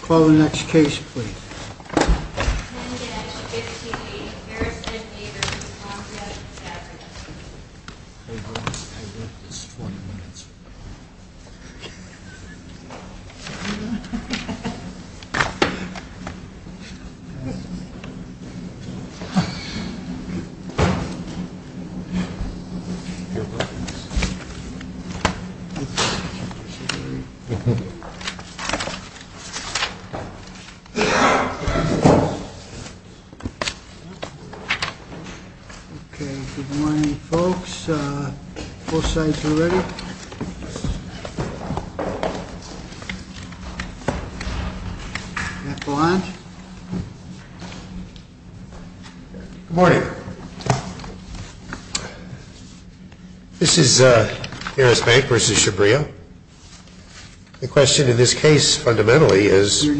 Call the next case please. Good morning. This is Harris Bank v. Chhabria. The question in this case fundamentally is whether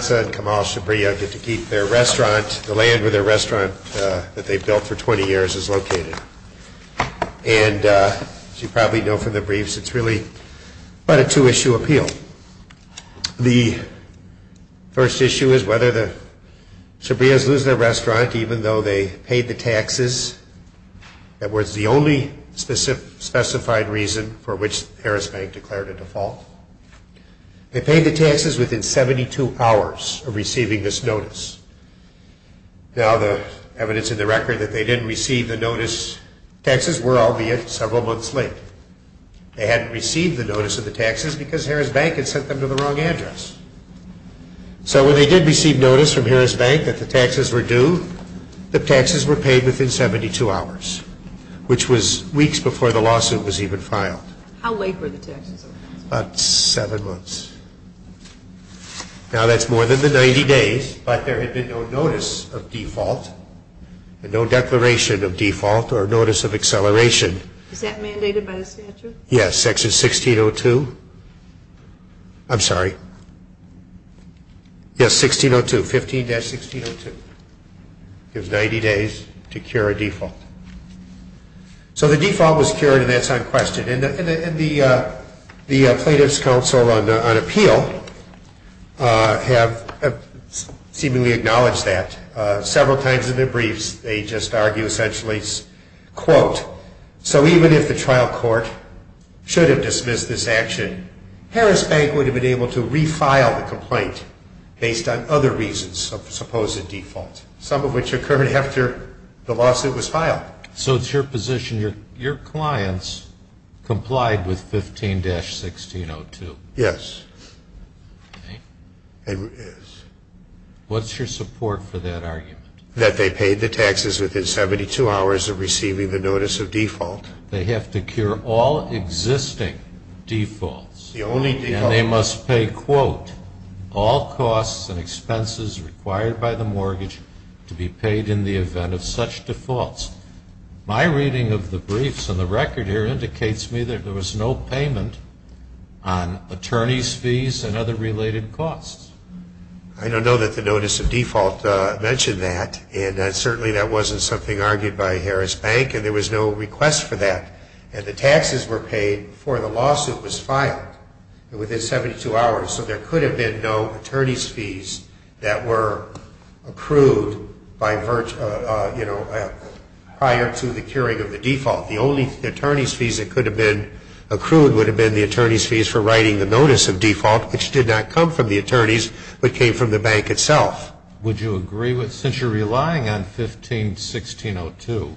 Hansa and Kamal Chhabria get to keep their restaurant, the land where their restaurant that they've built for 20 years is located. And as you probably know from the briefs, it's really quite a two-issue appeal. The first issue is whether the Chhabrias lose their restaurant even though they paid the taxes that was the only specified reason for which Harris Bank declared a default. They paid the taxes within 72 hours of receiving this notice. Now the evidence in the record that they didn't receive the notice taxes were, albeit, several months late. They hadn't received the notice of the taxes because Harris Bank had sent them to the wrong address. So when they did receive notice from Harris Bank that the taxes were due, the taxes were paid within 72 hours, which was weeks before the lawsuit was even filed. How late were the taxes? About seven months. Now that's more than the 90 days, but there had been no notice of default and no declaration of default or notice of acceleration. Is that mandated by the statute? Yes. Section 16.02. I'm sorry. Yes, 16.02. 15-16.02. It gives 90 days to cure a default. So the default was cured and that's unquestioned, and the Plaintiffs' Council on Appeal have seemingly acknowledged that. Several times in their briefs they just argue essentially, quote, so even if the trial court should have dismissed this action, Harris Bank would have been able to refile the complaint based on other reasons of supposed default, some of which occurred after the lawsuit was So it's your position, your clients complied with 15-16.02? Yes. Okay. Yes. What's your support for that argument? That they paid the taxes within 72 hours of receiving the notice of default. They have to cure all existing defaults. The only defaults. And they must pay, quote, all costs and expenses required by the mortgage to be paid in the My reading of the briefs and the record here indicates to me that there was no payment on attorney's fees and other related costs. I don't know that the notice of default mentioned that, and certainly that wasn't something argued by Harris Bank, and there was no request for that. And the taxes were paid before the lawsuit was filed within 72 hours, so there could the default. The only attorney's fees that could have been accrued would have been the attorney's fees for writing the notice of default, which did not come from the attorneys, but came from the bank itself. Would you agree with, since you're relying on 15-1602,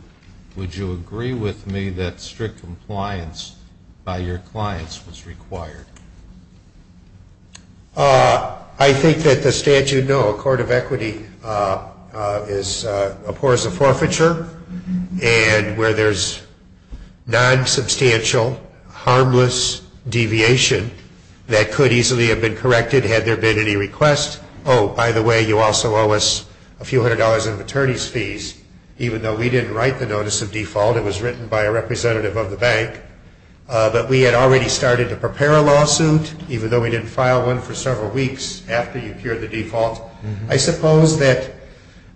would you agree with me that strict compliance by your clients was required? I think that the statute, no, a court of equity is, of course, a forfeiture, and where there's non-substantial, harmless deviation that could easily have been corrected had there been any request. Oh, by the way, you also owe us a few hundred dollars in attorney's fees. Even though we didn't write the notice of default, it was written by a representative of the bank, but we had already started to prepare a lawsuit, even though we didn't file one for several weeks after you cured the default. I suppose that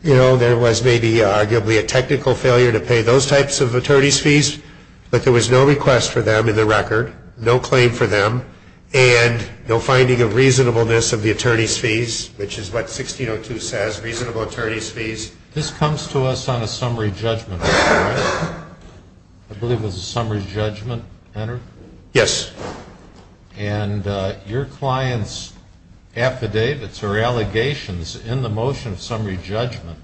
there was maybe arguably a technical failure to pay those types of attorney's fees, but there was no request for them in the record, no claim for them, and no finding of reasonableness of the attorney's fees, which is what 1602 says, reasonable attorney's fees. This comes to us on a summary judgment, right? I believe it was a summary judgment, Henry? Yes. And your clients' affidavits or allegations in the motion of summary judgment,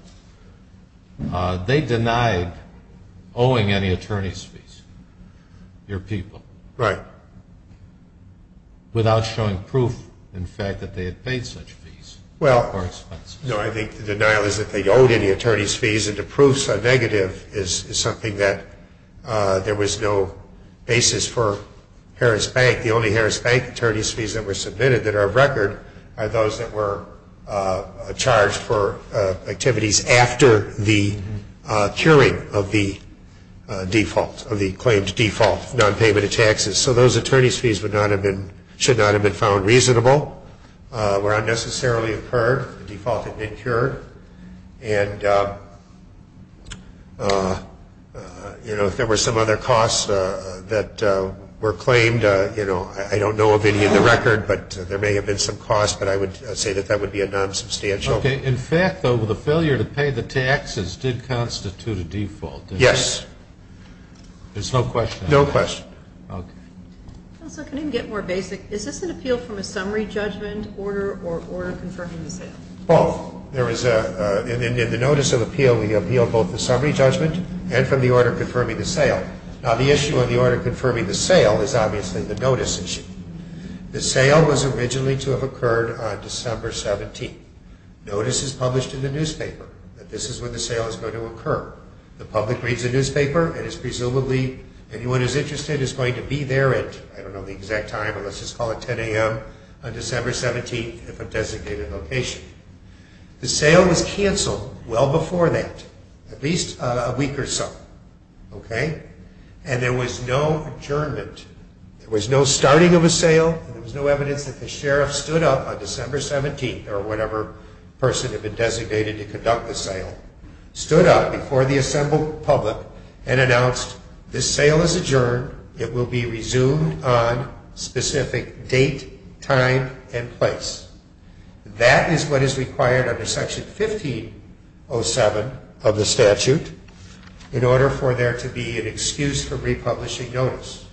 they denied owing any attorney's fees, your people. Right. Without showing proof, in fact, that they had paid such fees or expenses. No, I think the denial is that they owed any attorney's fees and the proofs are negative is something that there was no basis for Harris Bank. The only Harris Bank attorney's fees that were submitted that are of record are those that were charged for activities after the curing of the default, of the claimed default, non-payment of taxes. So those attorney's fees would not have been, should not have been found reasonable, were unnecessarily incurred, the default had been cured. And, you know, if there were some other costs that were claimed, you know, I don't know of any in the record, but there may have been some costs, but I would say that that would be a non-substantial. Okay. In fact, though, the failure to pay the taxes did constitute a default, didn't it? Yes. There's no question? No question. Okay. Counsel, can I get more basic? Is this an appeal from a summary judgment order or order confirming the sale? Both. There was a, in the notice of appeal, we appealed both the summary judgment and from the order confirming the sale. Now, the issue of the order confirming the sale is obviously the notice issue. The sale was originally to have occurred on December 17th. Notice is published in the newspaper that this is when the sale is going to occur. The public reads the newspaper and it's presumably, anyone who's interested is going to be there at, I don't know the exact time, but let's just call it 10 a.m. on December 17th if a designated location. The sale was canceled well before that, at least a week or so, okay? And there was no adjournment. There was no starting of a sale and there was no evidence that the sheriff stood up on December 17th or whatever person had been designated to conduct the sale, stood up before the assembled public and announced this sale is adjourned, it will be resumed on specific date, time, and place. That is what is required under Section 1507 of the statute in order for there to be an excuse for republishing notice,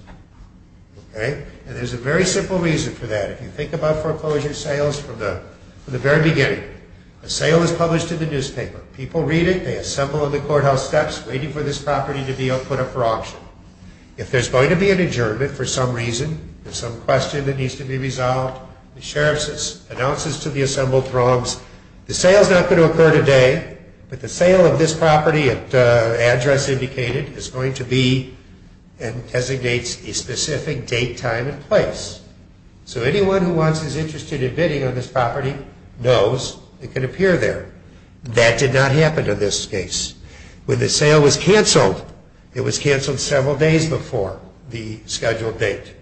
okay? And there's a very simple reason for that. If you think about foreclosure sales from the very beginning, a sale is published in the newspaper. People read it, they assemble in the courthouse steps waiting for this property to be put up for auction. If there's going to be an adjournment for some reason, some question that needs to be resolved, the sheriff announces to the assembled throngs, the sale is not going to occur today, but the sale of this property at the address indicated is going to be and designates a specific date, time, and place. So anyone who wants is interested in bidding on this property knows it can appear there. That did not happen in this case. When the sale was canceled, it was canceled several days before the scheduled date,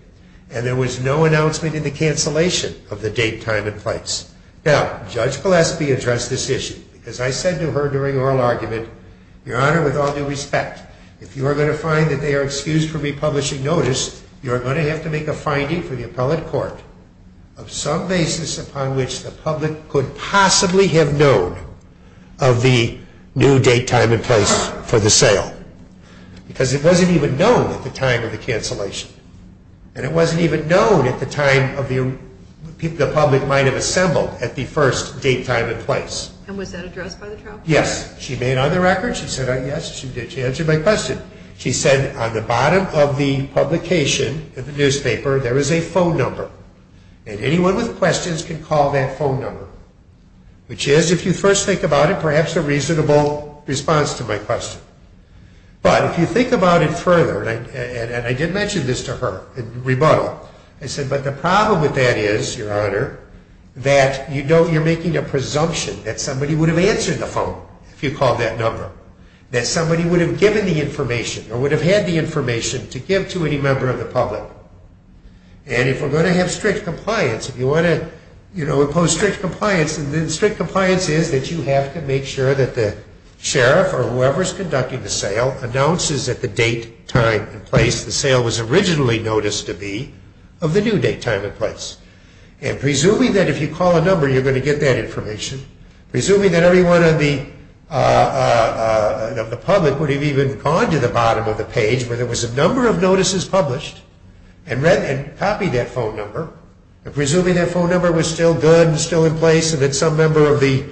and there was no announcement in the cancellation of the date, time, and place. Now, Judge Gillespie addressed this issue, because I said to her during oral argument, Your Honor, with all due respect, if you are going to find that they are excused from republishing notice, you are going to have to make a finding for the appellate court of some basis upon which the public could possibly have known of the new date, time, and place for the sale, because it wasn't even known at the time of the cancellation, and it wasn't even known at the time of the, the public might have assembled at the first date, time, and place. And was that addressed by the trial? Yes. She made on the record, she said yes, she did. She answered my question. She said on the bottom of the publication of the newspaper, there is a phone number, and anyone with questions can call that phone number, which is, if you first think about it, perhaps a reasonable response to my question. But if you think about it further, and I did mention this to her in rebuttal, I said, but the problem with that is, Your Honor, that you don't, you're making a presumption that somebody would have answered the phone if you called that number, that somebody would have given the information, or would have had the information to give to any member of the public. And if we're going to have strict compliance, if you want to, you know, impose strict compliance, and strict compliance is that you have to make sure that the sheriff or whoever is conducting the sale announces at the date, time, and place the sale was originally noticed to be of the new date, time, and place. And presuming that if you call a number, you're going to get that information, presuming that everyone on the, of the public would have even gone to the bottom of the page where there was a number of notices published, and read, and copied that phone number, and presuming that phone number was still good and still in place, and that some member of the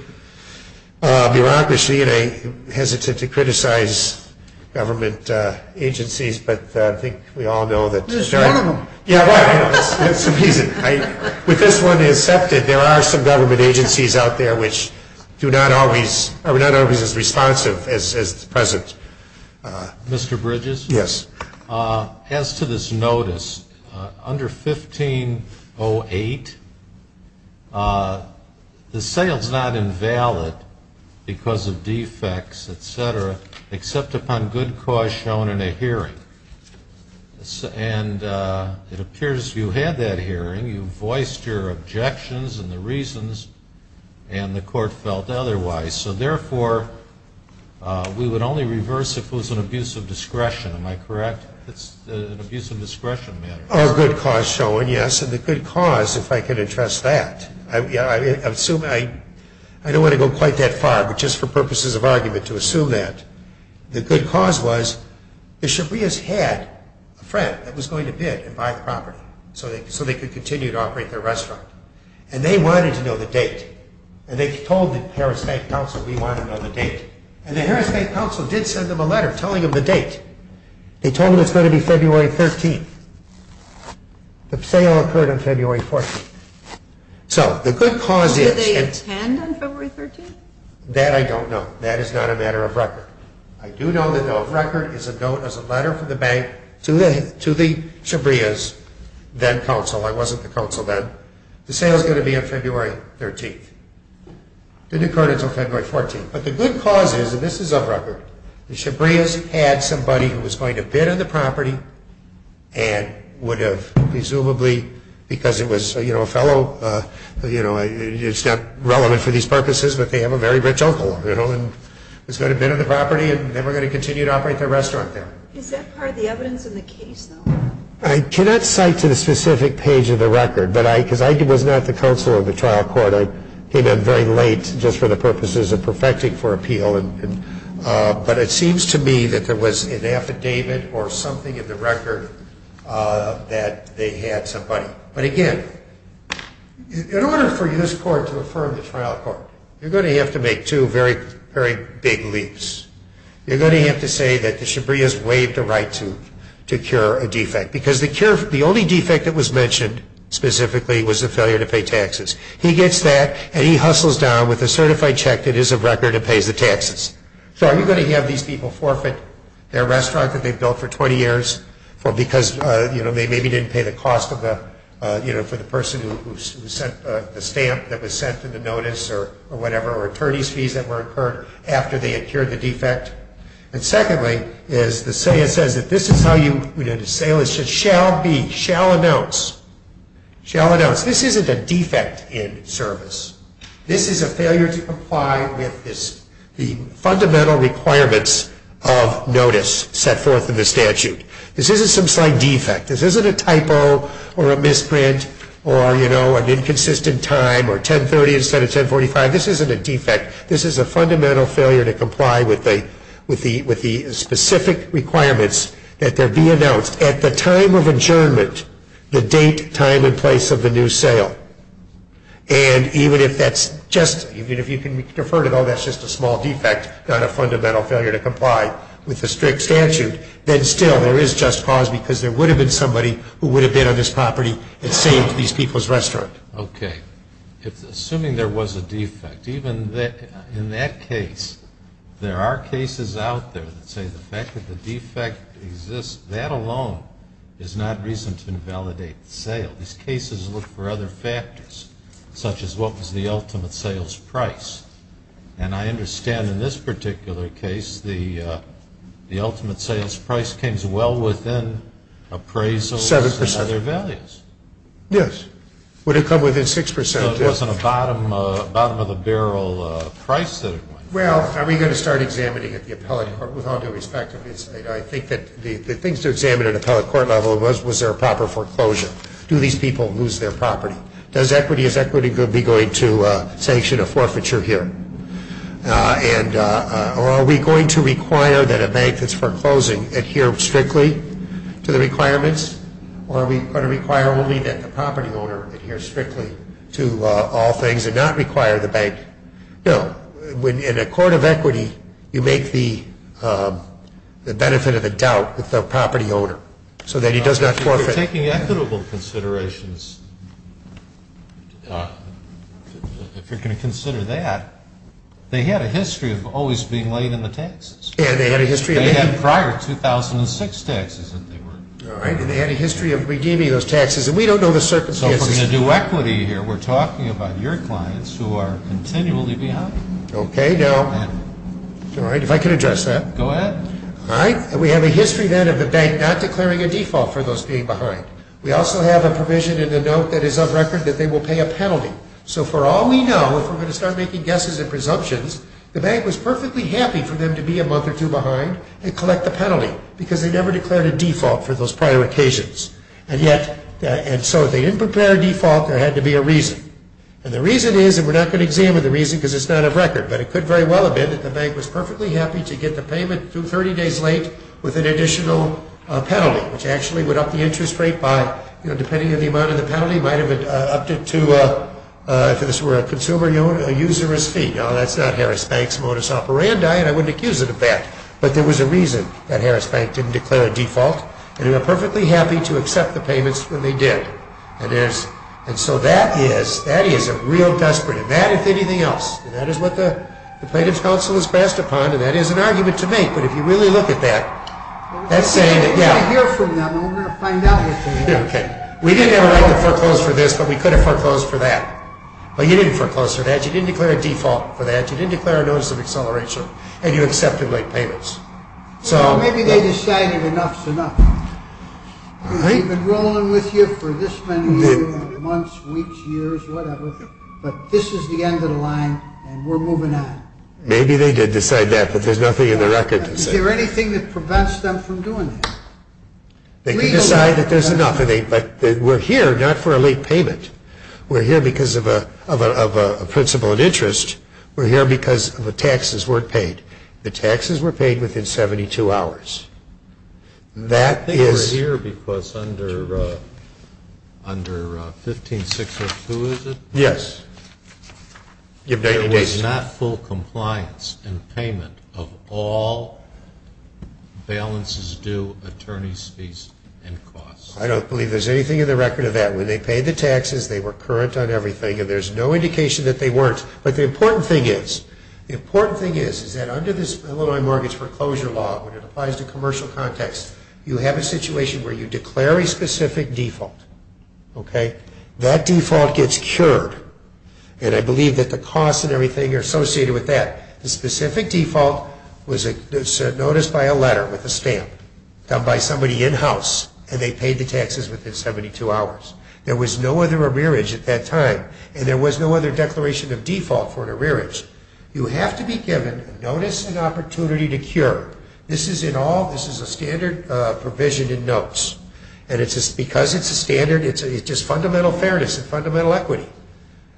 bureaucracy, and I hesitate to criticize government agencies, but I think we all know that. There's one of them. Yeah, right. That's the reason. With this one accepted, there are some government agencies out there which do not always, are not always as responsive as the present. Mr. Bridges? Yes. Mr. Bridges, as to this notice, under 1508, the sale is not invalid because of defects, etc., except upon good cause shown in a hearing. And it appears you had that hearing, you voiced your objections and the reasons, and the court felt otherwise. So therefore, we would only correct, it's an abuse of discretion matter. Oh, good cause shown, yes. And the good cause, if I could address that, I assume, I don't want to go quite that far, but just for purposes of argument, to assume that. The good cause was, the Shabrias had a friend that was going to bid and buy the property, so they could continue to operate their restaurant. And they wanted to know the date. And they told the Harris Bank Council, we want to know the date. And the Harris Bank Council did send them a letter telling them the date. They told them it's going to be February 13th. The sale occurred on February 14th. So, the good cause is... Did they attend on February 13th? That I don't know. That is not a matter of record. I do know that the record is a note, is a letter from the bank to the Shabrias, then council. I wasn't the council then. The sale is going to be on February 13th. It didn't occur until February 14th. But the good cause is, and this is of record, the Shabrias had somebody who was going to bid on the property and would have presumably, because it was a fellow, it's not relevant for these purposes, but they have a very rich uncle, and was going to bid on the property and they were going to continue to operate their restaurant there. Is that part of the evidence in the case, though? I cannot cite to the specific page of the record, but I, because I was not the counsel in the trial court, I came in very late just for the purposes of perfecting for appeal. But it seems to me that there was an affidavit or something in the record that they had somebody. But again, in order for this court to affirm the trial court, you're going to have to make two very, very big leaps. You're going to have to say that the Shabrias waived the right to cure a defect, because the only defect that was mentioned specifically was the failure to pay taxes. He gets that, and he hustles down with a certified check that is of record and pays the taxes. So are you going to have these people forfeit their restaurant that they built for 20 years, because they maybe didn't pay the cost for the person who sent the stamp that was sent in the notice, or whatever, or attorney's fees that were incurred after they had cured the defect? And secondly, is the Salah says that this is how you, the Salah says, shall be, shall announce, shall announce, this isn't a defect in service. This is a failure to comply with the fundamental requirements of notice set forth in the statute. This isn't some slight defect. This isn't a typo or a misprint or an inconsistent time or 1030 instead of 1045. This isn't a defect. This is a fundamental failure to comply with the specific requirements that there be announced at the time of adjournment, the date, time, and place of the new sale. And even if that's just, even if you can defer to, oh, that's just a small defect, not a fundamental failure to comply with the strict statute, then still there is just cause because there would have been somebody who would have been on this property and saved these people's restaurant. Okay. Assuming there was a defect, even in that case, there are cases out there that say the fact that the defect exists, that alone is not reason to invalidate the sale. These cases look for other factors, such as what was the ultimate sales price. And I understand in this particular case, the ultimate sales price came as well within appraisals and other values. Seven percent. Yes. Would it come within six percent? No, it wasn't a bottom of the barrel price that it went. Well, are we going to start examining at the appellate court? With all due respect, I think that the things to examine at appellate court level was, was there a proper foreclosure? Do these people lose their property? Does equity, is equity going to be going to sanction a forfeiture here? And are we going to require that a bank that's foreclosing adhere strictly to the requirements? Or are we going to require only that the property owner adhere strictly to all things and not require the bank? No. In a court of equity, you make the, the benefit of the doubt with the property owner so that he does not forfeit. If you're taking equitable considerations, if you're going to consider that, they had a history of always being late in the taxes. Yeah, they had a history of being late. They had prior 2006 taxes that they were. All right. And they had a history of redeeming those taxes. And we don't know the circumstances. So if we're going to do equity here, we're talking about your clients who are continually behind. Okay. Now. All right. If I could address that. Go ahead. All right. We have a history then of the bank not declaring a default for those being behind. We also have a provision in the note that is of record that they will pay a penalty. So for all we know, if we're going to start making guesses and presumptions, the bank was perfectly happy for them to be a month or two behind and collect the penalty because they never declared a default for those prior occasions. And so if they didn't declare a default, there had to be a reason. And the reason is, and we're not going to examine the reason because it's not of record, but it could very well have been that the bank was perfectly happy to get the payment through 30 days late with an additional penalty, which actually would up the interest rate by, you know, depending on the amount of the penalty, might have upped it to, if this were a consumer, a usurous fee. Now, that's not Harris Bank's modus operandi, and I wouldn't accuse it of that. But there was a reason that Harris Bank didn't declare a default, and they were perfectly happy to accept the payments when they did. And so that is, that is a real desperate event, if anything else, and that is what the plaintiff's counsel has passed upon, and that is an argument to make, but if you really look at that, that's saying that, yeah. We didn't have a right to foreclose for this, but we could have foreclosed for that. But you didn't foreclose for that, you didn't declare a default for that, you didn't declare a notice of acceleration, and you accepted late payments. So maybe they decided enough's enough. We've been rolling with you for this many months, weeks, years, whatever, but this is the end of the line, and we're moving on. Maybe they did decide that, but there's nothing in the record to say. Is there anything that prevents them from doing that? They can decide that there's enough, but we're here not for a late payment. We're here because of a principle of interest. We're here because the taxes weren't paid. The taxes were paid within 72 hours. That is... I think we're here because under 15602, is it? Yes. There was not full compliance and payment of all balances due, attorney's fees, and costs. I don't believe there's anything in the record of that. When they paid the taxes, they were current on everything, and there's no indication that they weren't. But the important thing is, the important thing is, is that under this Illinois mortgage foreclosure law, when it applies to commercial context, you have a situation where you declare a specific default. That default gets cured, and I believe that the costs and everything are associated with that. The specific default was a notice by a letter with a stamp, done by somebody in-house, and they paid the taxes within 72 hours. There was no other arrearage at that time, and there was no other declaration of default for an arrearage. You have to be given a notice and opportunity to cure. This is in all... This is a standard provision in notes, and it's just because it's a standard, it's just fundamental fairness and fundamental equity,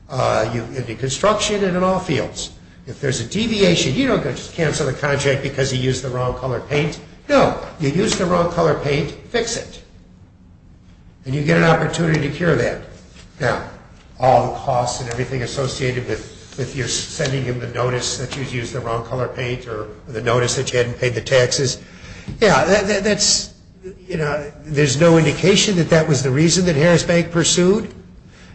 in the construction and in all fields. If there's a deviation, you don't just cancel the contract because he used the wrong color paint. No. You use the wrong color paint, fix it. And you get an opportunity to cure that. Now, all the costs and everything associated with your sending him the notice that you used the wrong color paint, or the notice that you hadn't paid the taxes, yeah, that's... There's no indication that that was the reason that Harris Bank pursued.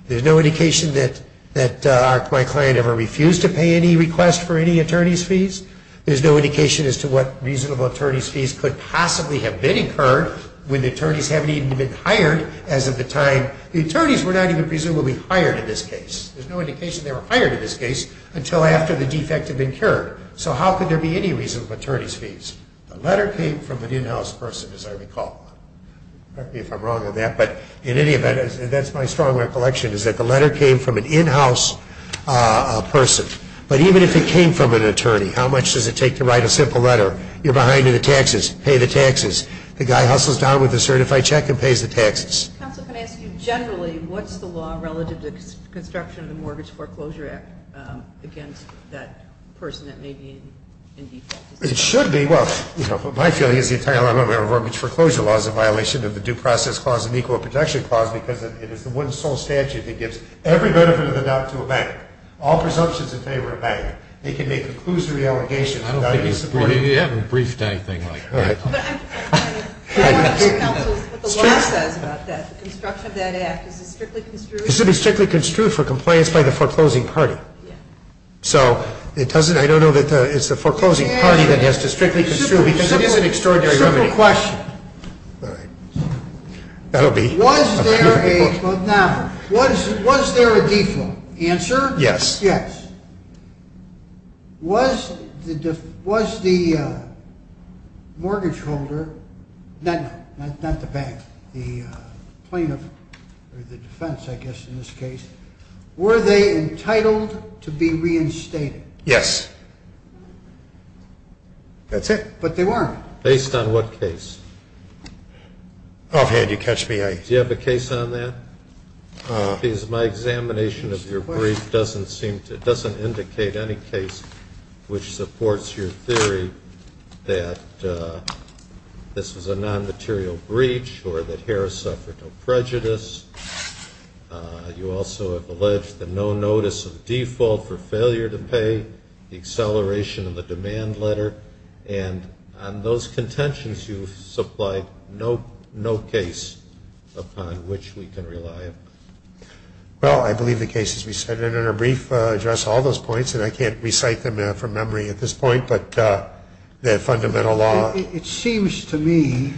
There's no indication that my client ever refused to pay any request for any attorney's fees. There's no indication as to what reasonable attorney's fees could possibly have been incurred when the attorneys haven't even been hired as of the time... The attorneys were not even presumably hired in this case. There's no indication they were hired in this case until after the defect had been cured. So how could there be any reasonable attorney's fees? The letter came from an in-house person, as I recall. Correct me if I'm wrong on that, but in any event, that's my strong recollection, is that the letter came from an in-house person. But even if it came from an attorney, how much does it take to write a simple letter? You're behind in the taxes. Pay the taxes. The guy hustles down with a certified check and pays the taxes. Counsel, can I ask you generally, what's the law relative to the construction of the Mortgage Foreclosure Act against that person that may be in defect? It should be... Well, you know, my feeling is the entire Mortgage Foreclosure Law is a violation of the Due Process Clause and Equal Protection Clause because it is the one sole statute that gives every benefit of the doubt to a bank. All presumptions in favor of a bank. They can make a conclusory allegation without any support... You haven't briefed anything like that. Counsel, what the law says about that, the construction of that act, is it strictly construed? It should be strictly construed for compliance by the foreclosing party. So it doesn't... I don't know that it's the foreclosing party that has to strictly construe because it is an extraordinary remedy. Simple question. All right. That'll be... Was there a... Yes. Yes. Was the mortgage holder, not the bank, the plaintiff, or the defense I guess in this case, were they entitled to be reinstated? Yes. That's it. But they weren't. Based on what case? Offhand, you catch me. Do you have a case on that? My examination of your brief doesn't seem to... It doesn't indicate any case which supports your theory that this was a non-material breach or that Harris suffered no prejudice. You also have alleged the no notice of default for failure to pay, the acceleration of the demand letter. And on those contentions you've supplied, no case upon which we can rely upon. Well, I believe the case has been set. And in our brief address all those points, and I can't recite them from memory at this point, but the fundamental law... It seems to me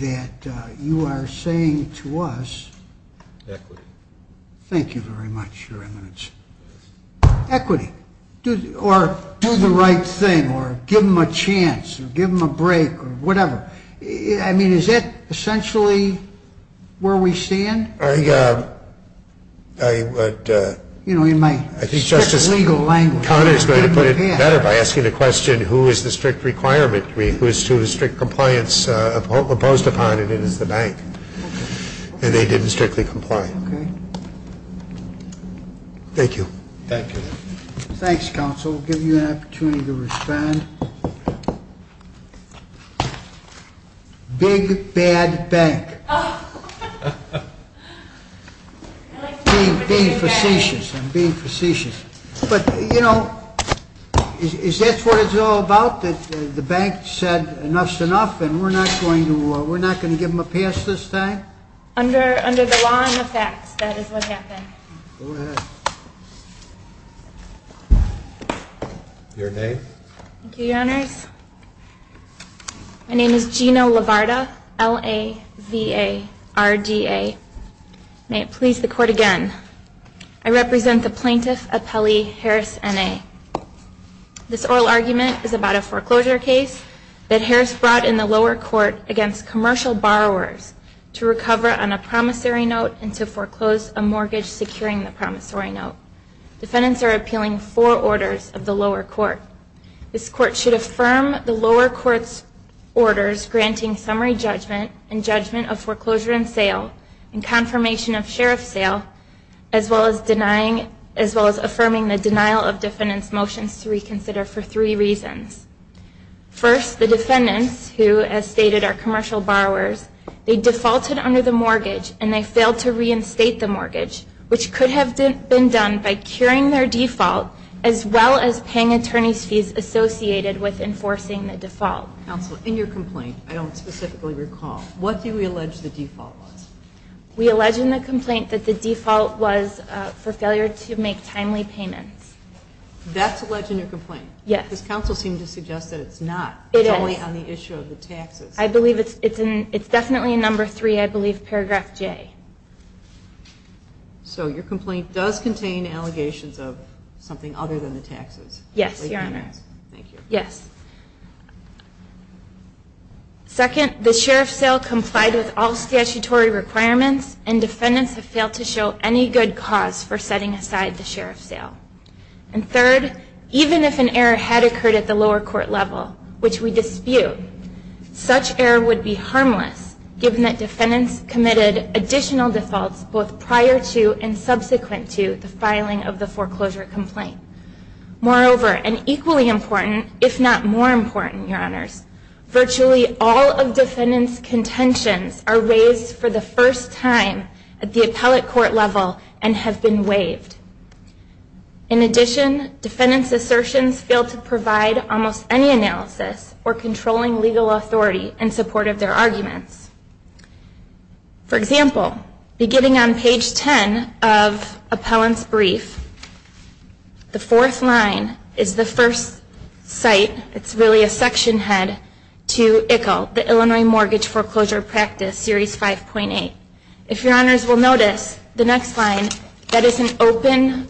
that you are saying to us... Equity. Thank you very much, Your Eminence. Equity. Or do the right thing. Or give them a chance. Or give them a break. Or whatever. I mean, is that essentially where we stand? I would... In my strict legal language... I think Justice Conner is going to put it better by asking the question, who is the strict requirement? Who is to strict compliance imposed upon? And it is the bank. And they didn't strictly comply. Thank you. Thank you. Thanks, Counsel. I'll give you an opportunity to respond. Big bad bank. I like to call it a big bad bank. I'm being facetious. I'm being facetious. But, you know, is that what it's all about? That the bank said enough's enough and we're not going to give them a pass this time? Under the law and the facts, that is what happened. Go ahead. Your name? Thank you, Your Honors. My name is Gina LaVarda. L-A-V-A-R-D-A. May it please the Court again. I represent the plaintiff, appellee, Harris N.A. This oral argument is about a foreclosure case that Harris brought in the lower court against commercial borrowers to recover on a promissory note and to foreclose a mortgage securing the promissory note. Defendants are appealing four orders of the lower court. This court should affirm the lower court's orders granting summary judgment and judgment of foreclosure and sale and confirmation of sheriff sale, as well as affirming the denial of defendant's motions to reconsider for three reasons. First, the defendants, who, as stated, are commercial borrowers, they defaulted under the mortgage and they failed to reinstate the mortgage, which could have been done by curing their default, as well as paying attorney's fees associated with enforcing the default. Counsel, in your complaint, I don't specifically recall, what do we allege the default was? We allege in the complaint that the default was for failure to make timely payments. That's alleged in your complaint? Yes. Because counsel seemed to suggest that it's not. It is. It's only on the issue of the taxes. I believe it's definitely in number three, I believe, paragraph J. So your complaint does contain allegations of something other than the taxes. Yes, your honor. Thank you. Yes. Second, the sheriff sale complied with all statutory requirements and defendants have failed to show any good cause for setting aside the sheriff sale. And third, even if an error had occurred at the lower court level, which we dispute, such error would be harmless given that defendants committed additional defaults both prior to and subsequent to the filing of the foreclosure complaint. Moreover, and equally important, if not more important, your honors, virtually all of defendants' contentions are raised for the first time at the appellate court level and have been waived. In addition, defendants' assertions fail to provide almost any analysis or controlling legal authority in support of their arguments. For example, beginning on page 10 of appellant's brief, the fourth line is the first site, it's really a section head, to ICCL, the Illinois Mortgage Foreclosure Practice, series 5.8. If your honors will notice, the next line, that is an open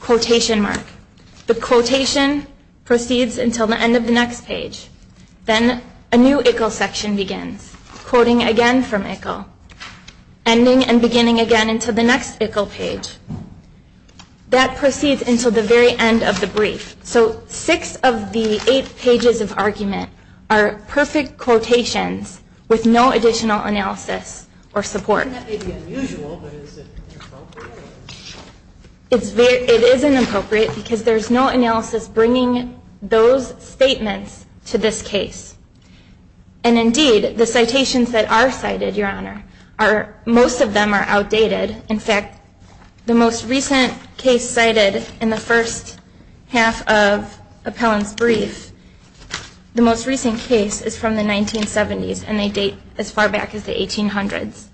quotation mark. The quotation proceeds until the end of the next page. Then a new ICCL section begins, quoting again from ICCL, ending and beginning again until the next ICCL page. That proceeds until the very end of the brief. So six of the eight pages of argument are perfect quotations with no additional analysis or support. And that may be unusual, but is it appropriate? It is inappropriate because there is no analysis bringing those statements to this case. And indeed, the citations that are cited, your honor, most of them are outdated. In fact, the most recent case cited in the first half of appellant's brief, the most recent case is from the 1970s and they date as far back as the 1800s.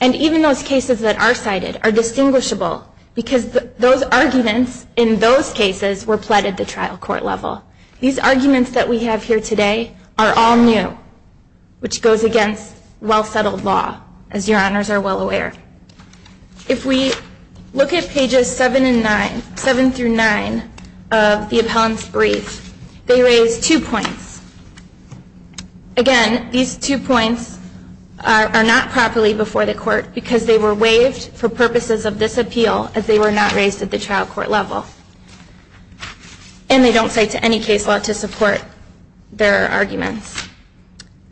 And even those cases that are cited are distinguishable because those arguments in those cases were pled at the trial court level. These arguments that we have here today are all new, which goes against well-settled law, as your honors are well aware. If we look at pages 7 through 9 of the appellant's brief, they raise two points. Again, these two points are not properly before the court because they were waived for purposes of this appeal as they were not raised at the trial court level. And they don't cite to any case law to support their arguments.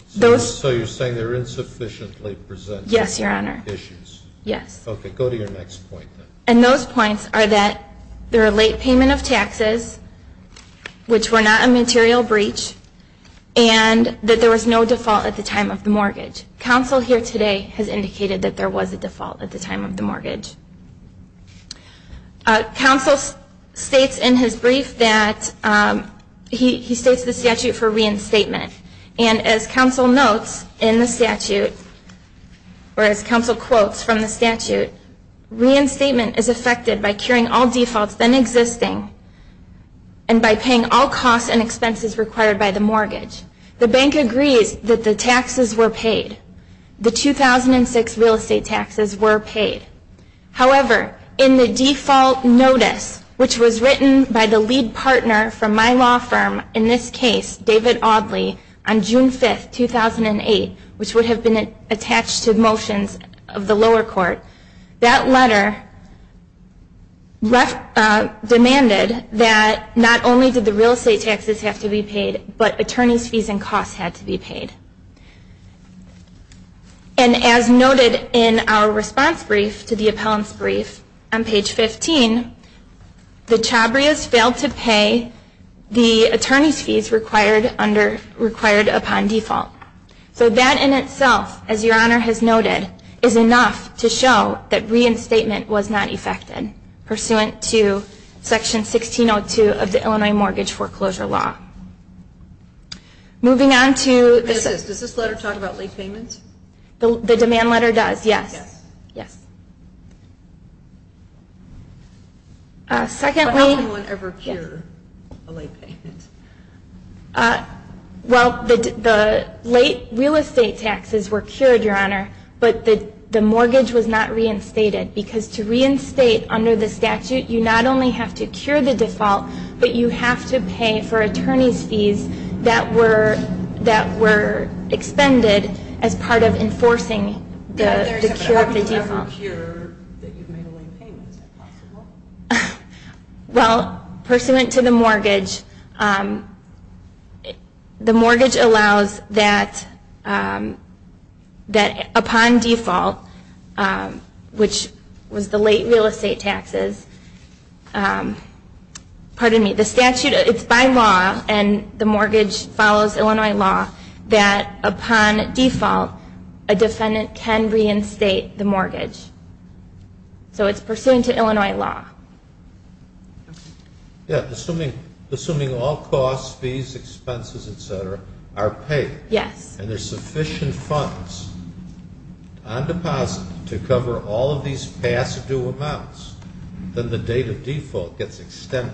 So you're saying they're insufficiently presented? Yes, your honor. Issues? Yes. Okay, go to your next point. And those points are that there are late payment of taxes, which were not a material breach, and that there was no default at the time of the mortgage. Counsel here today has indicated that there was a default at the time of the mortgage. Counsel states in his brief that he states the statute for reinstatement. And as counsel notes in the statute, or as counsel quotes from the statute, reinstatement is affected by curing all defaults then existing and by paying all costs and expenses required by the mortgage. The bank agrees that the taxes were paid. The 2006 real estate taxes were paid. However, in the default notice, which was written by the lead partner from my law firm, in this case, David Audley, on June 5, 2008, which would have been attached to motions of the lower court, that letter demanded that not only did the real estate taxes have to be paid, but attorneys' fees and costs had to be paid. And as noted in our response brief to the appellant's brief, on page 15, the Chabrias failed to pay the attorneys' fees required upon default. So that in itself, as your Honor has noted, is enough to show that reinstatement was not affected, pursuant to Section 1602 of the Illinois Mortgage Foreclosure Law. Does this letter talk about late payments? The demand letter does, yes. But how can one ever cure a late payment? Well, the late real estate taxes were cured, Your Honor, but the mortgage was not reinstated. Because to reinstate under the statute, you not only have to cure the default, but you have to pay for attorneys' fees that were expended as part of enforcing the cure of the default. To cure that you've made a late payment, is that possible? Well, pursuant to the mortgage, the mortgage allows that upon default, which was the late real estate taxes, pardon me, the statute, it's by law, and the mortgage follows Illinois law, that upon default, a defendant can reinstate the mortgage. So it's pursuant to Illinois law. Yeah, assuming all costs, fees, expenses, etc., are paid, and there's sufficient funds on deposit to cover all of these past due amounts, then the date of default gets extended.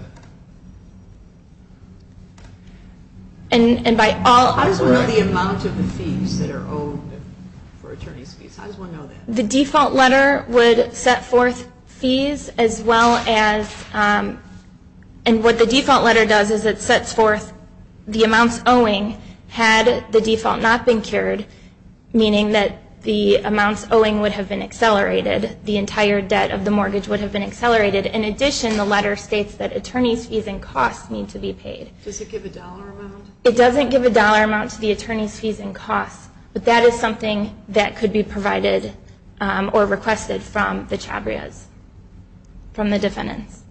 Correct. How does one know the amount of the fees that are owed for attorneys' fees? How does one know that? The default letter would set forth fees, as well as, and what the default letter does is it sets forth the amounts owing had the default not been cured, meaning that the amounts owing would have been accelerated. The entire debt of the mortgage would have been accelerated. In addition, the letter states that attorneys' fees and costs need to be paid. Does it give a dollar amount? It doesn't give a dollar amount to the attorneys' fees and costs, but that is something that could be provided or requested from the chabrias, from the defendants.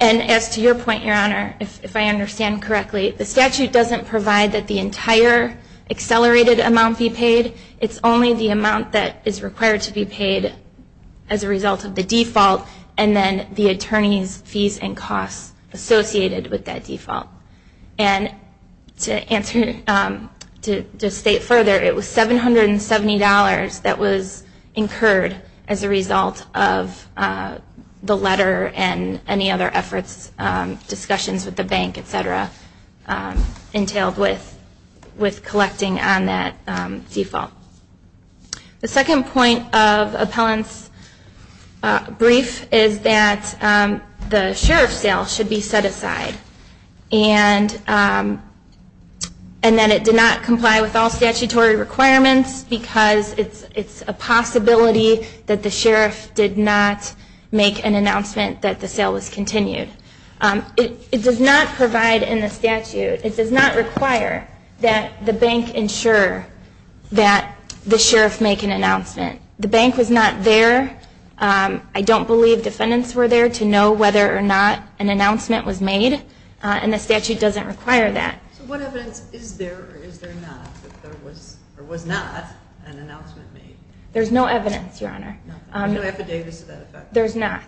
And as to your point, Your Honor, if I understand correctly, the statute doesn't provide that the entire accelerated amount be paid. It's only the amount that is required to be paid as a result of the default and then the attorneys' fees and costs associated with that default. And to state further, it was $770 that was incurred as a result of the letter and any other efforts, discussions with the bank, etc., with collecting on that default. The second point of appellant's brief is that the sheriff's sale should be set aside and that it did not comply with all statutory requirements because it's a possibility that the sheriff did not make an announcement that the sale was continued. It does not provide in the statute, it does not require that the bank ensure that the sheriff make an announcement. The bank was not there. I don't believe defendants were there to know whether or not an announcement was made and the statute doesn't require that. So what evidence is there or is there not that there was or was not an announcement made? There's no evidence, Your Honor. There's no affidavits to that effect? There's not.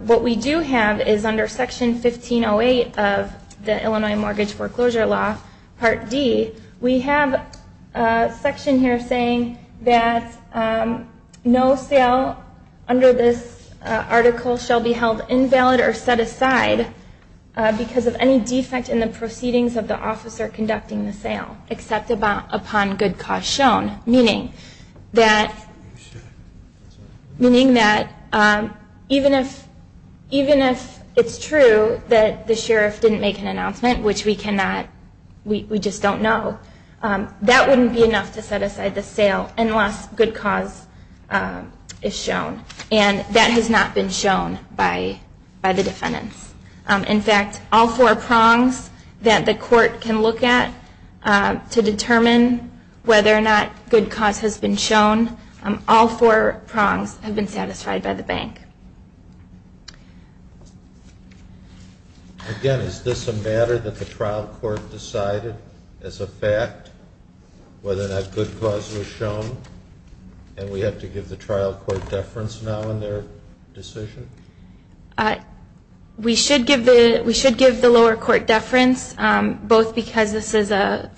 What we do have is under Section 1508 of the Illinois Mortgage Foreclosure Law, Part D, we have a section here saying that no sale under this article shall be held invalid or set aside because of any defect in the proceedings of the officer conducting the sale except upon good cause shown, meaning that even if it's true that the sheriff didn't make an announcement which we just don't know, that wouldn't be enough to set aside the sale unless good cause is shown and that has not been shown by the defendants. In fact, all four prongs that the court can look at to determine whether or not good cause has been shown, all four prongs have been satisfied by the bank. Again, is this a matter that the trial court decided as a fact whether or not good cause was shown and we have to give the trial court deference now in their decision? We should give the lower court deference both because this is a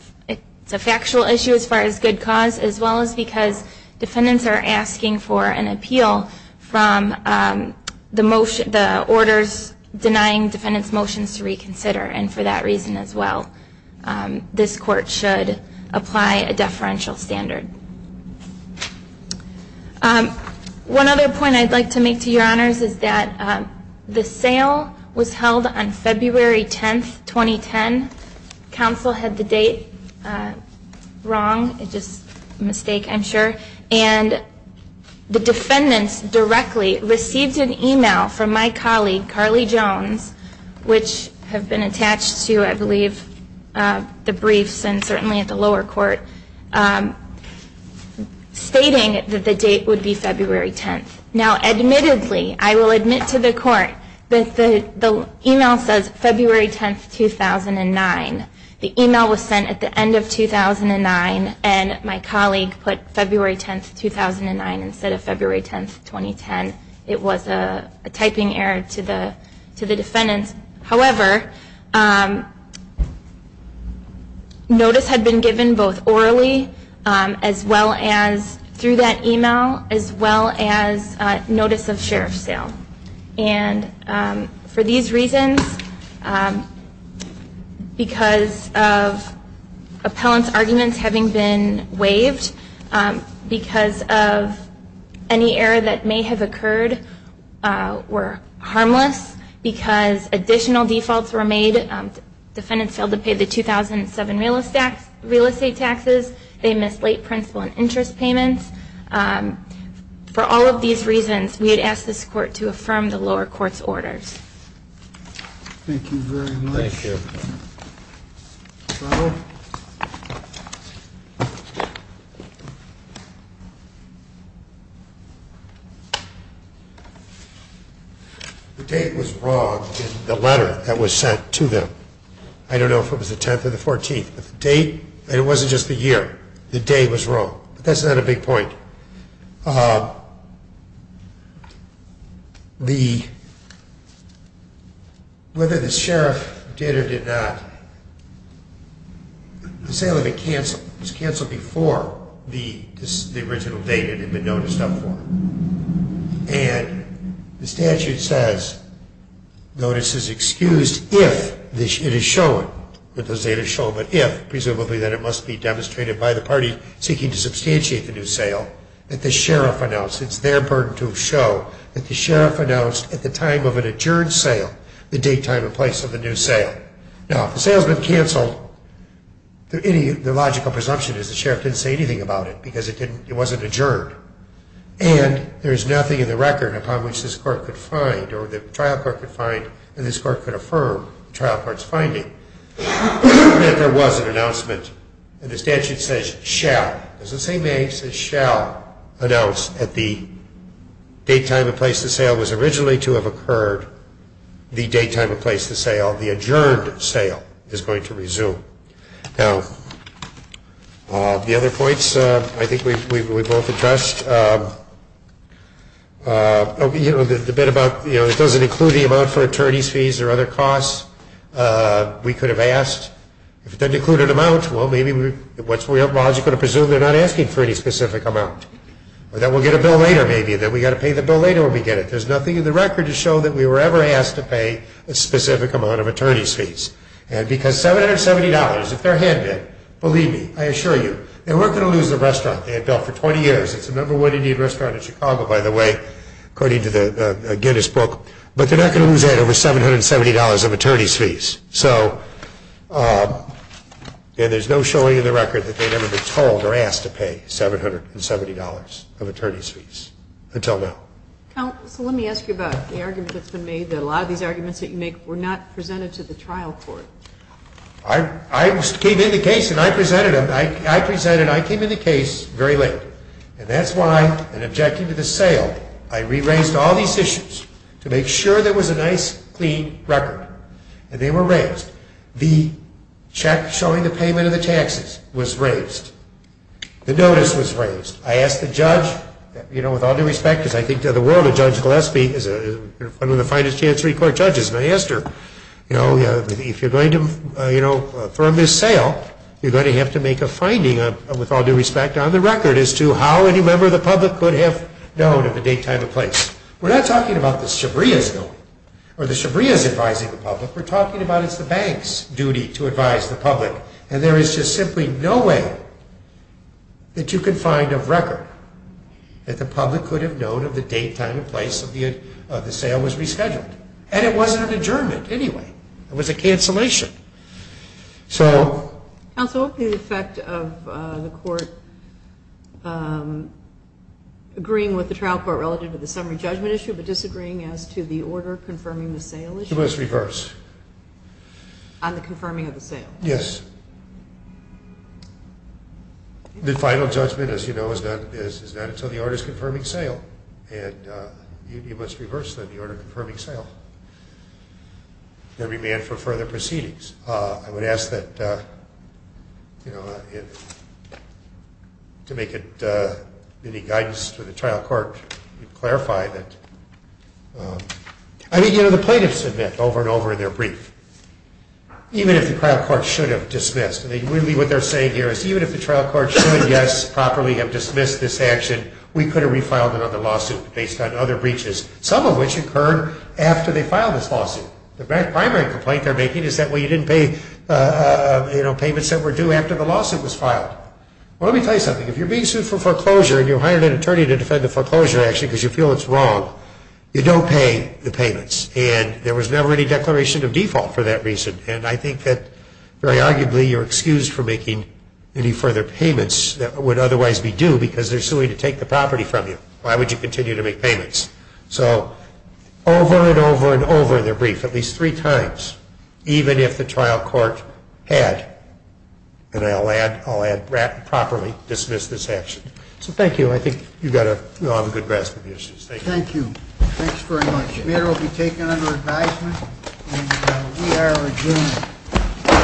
factual issue as far as good cause as well as because defendants are asking for an appeal from the orders denying defendants' motions to reconsider and for that reason as well this court should apply a deferential standard. One other point I'd like to make to your honors is that the sale was held on February 10, 2010. Counsel had the date wrong, just a mistake I'm sure, and the defendants directly received an email from my colleague, Carly Jones, which have been attached to, I believe, the briefs and certainly at the lower court stating that the date would be February 10. Now admittedly, I will admit to the court that the email says February 10, 2009. The email was sent at the end of 2009 and my colleague put February 10, 2009 instead of February 10, 2010. It was a typing error to the defendants. However, notice had been given both orally through that email as well as notice of sheriff's sale. And for these reasons because of appellant's arguments having been waived because of any error that may have occurred were harmless because additional defaults were made. Defendants failed to pay the 2007 real estate taxes. They missed late principal and interest payments. For all of these reasons we would ask this court to affirm the lower court's orders. Thank you very much. Thank you. The date was wrong in the letter that was sent to them. I don't know if it was the 10th or the 14th. It wasn't just the year. The date was wrong. But that's not a big point. Whether the sheriff did or did not the sale had been canceled before the original date had been noticed up for. And the statute says notice is excused if it is shown presumably that it must be demonstrated by the party seeking to substantiate the new sale that the sheriff announced at the time of an adjourned sale the date, time, and place of the new sale. Now, if the sale has been canceled the logical presumption is the sheriff didn't say anything about it because it wasn't adjourned and there is nothing in the record upon which this court could find or the trial court could find and this court could affirm the trial court's finding that there was an announcement and the statute says shall announce that the date, time, and place of the sale was originally to have occurred the date, time, and place of the sale the adjourned sale is going to resume. Now, the other points I think we both addressed the bit about it doesn't include the amount for attorney's fees or other costs we could have asked if it doesn't include an amount what's logical to presume they're not asking for any specific amount or that we'll get a bill later there's nothing in the record to show that we were ever asked to pay a specific amount of attorney's fees and because $770, if they're handed believe me, I assure you they weren't going to lose the restaurant they had built for 20 years it's the number one Indian restaurant in Chicago by the way according to the Guinness book but they're not going to lose that over $770 of attorney's fees and there's no showing in the record that they've ever been told or asked to pay $770 of attorney's fees, until now. So let me ask you about the argument that's been made that a lot of these arguments that you make were not presented to the trial court I came in the case and I presented them I came in the case very late and that's why, in objecting to the sale I re-raised all these issues to make sure there was a nice clean record, and they were raised the check showing the payment of the taxes was raised the notice was raised I asked the judge, with all due respect because I think in the world of Judge Gillespie she's one of the finest chancery court judges and I asked her, if you're going to throw a missed sale you're going to have to make a finding with all due respect, on the record as to how any member of the public could have known at the date, time, and place we're not talking about the Shabria's advising the public we're talking about it's the bank's duty to advise the public and there is just simply no way that you can find a record that the public could have known at the date, time, and place of the sale was rescheduled and it wasn't an adjournment anyway, it was a cancellation Counsel, the effect of the court agreeing with the trial court relative to the summary judgment issue but disagreeing as to the order confirming the sale issue It was reversed On the confirming of the sale? Yes The final judgment, as you know, is not until the order is confirming sale and you must reverse the order confirming sale There would be a demand for further proceedings I would ask that to make it any guidance to the trial court clarify that The plaintiffs admit over and over in their brief even if the trial court should have dismissed what they're saying here is even if the trial court should properly have dismissed this action we could have refiled another lawsuit based on other breaches some of which occurred after they filed this lawsuit The primary complaint they're making is that you didn't pay payments that were due after the lawsuit was filed Let me tell you something, if you're being sued for foreclosure and you hired an attorney to defend the foreclosure action because you feel it's wrong, you don't pay the payments and there was never any declaration of default for that reason and I think that very arguably you're excused for making any further payments that would otherwise be due because they're suing to take the property from you Why would you continue to make payments? So over and over and over in their brief, at least three times even if the trial court had and I'll add, properly dismiss this action So thank you, I think we all have a good grasp of the issues Thank you, thanks very much The mayor will be taken under advisement and we are adjourned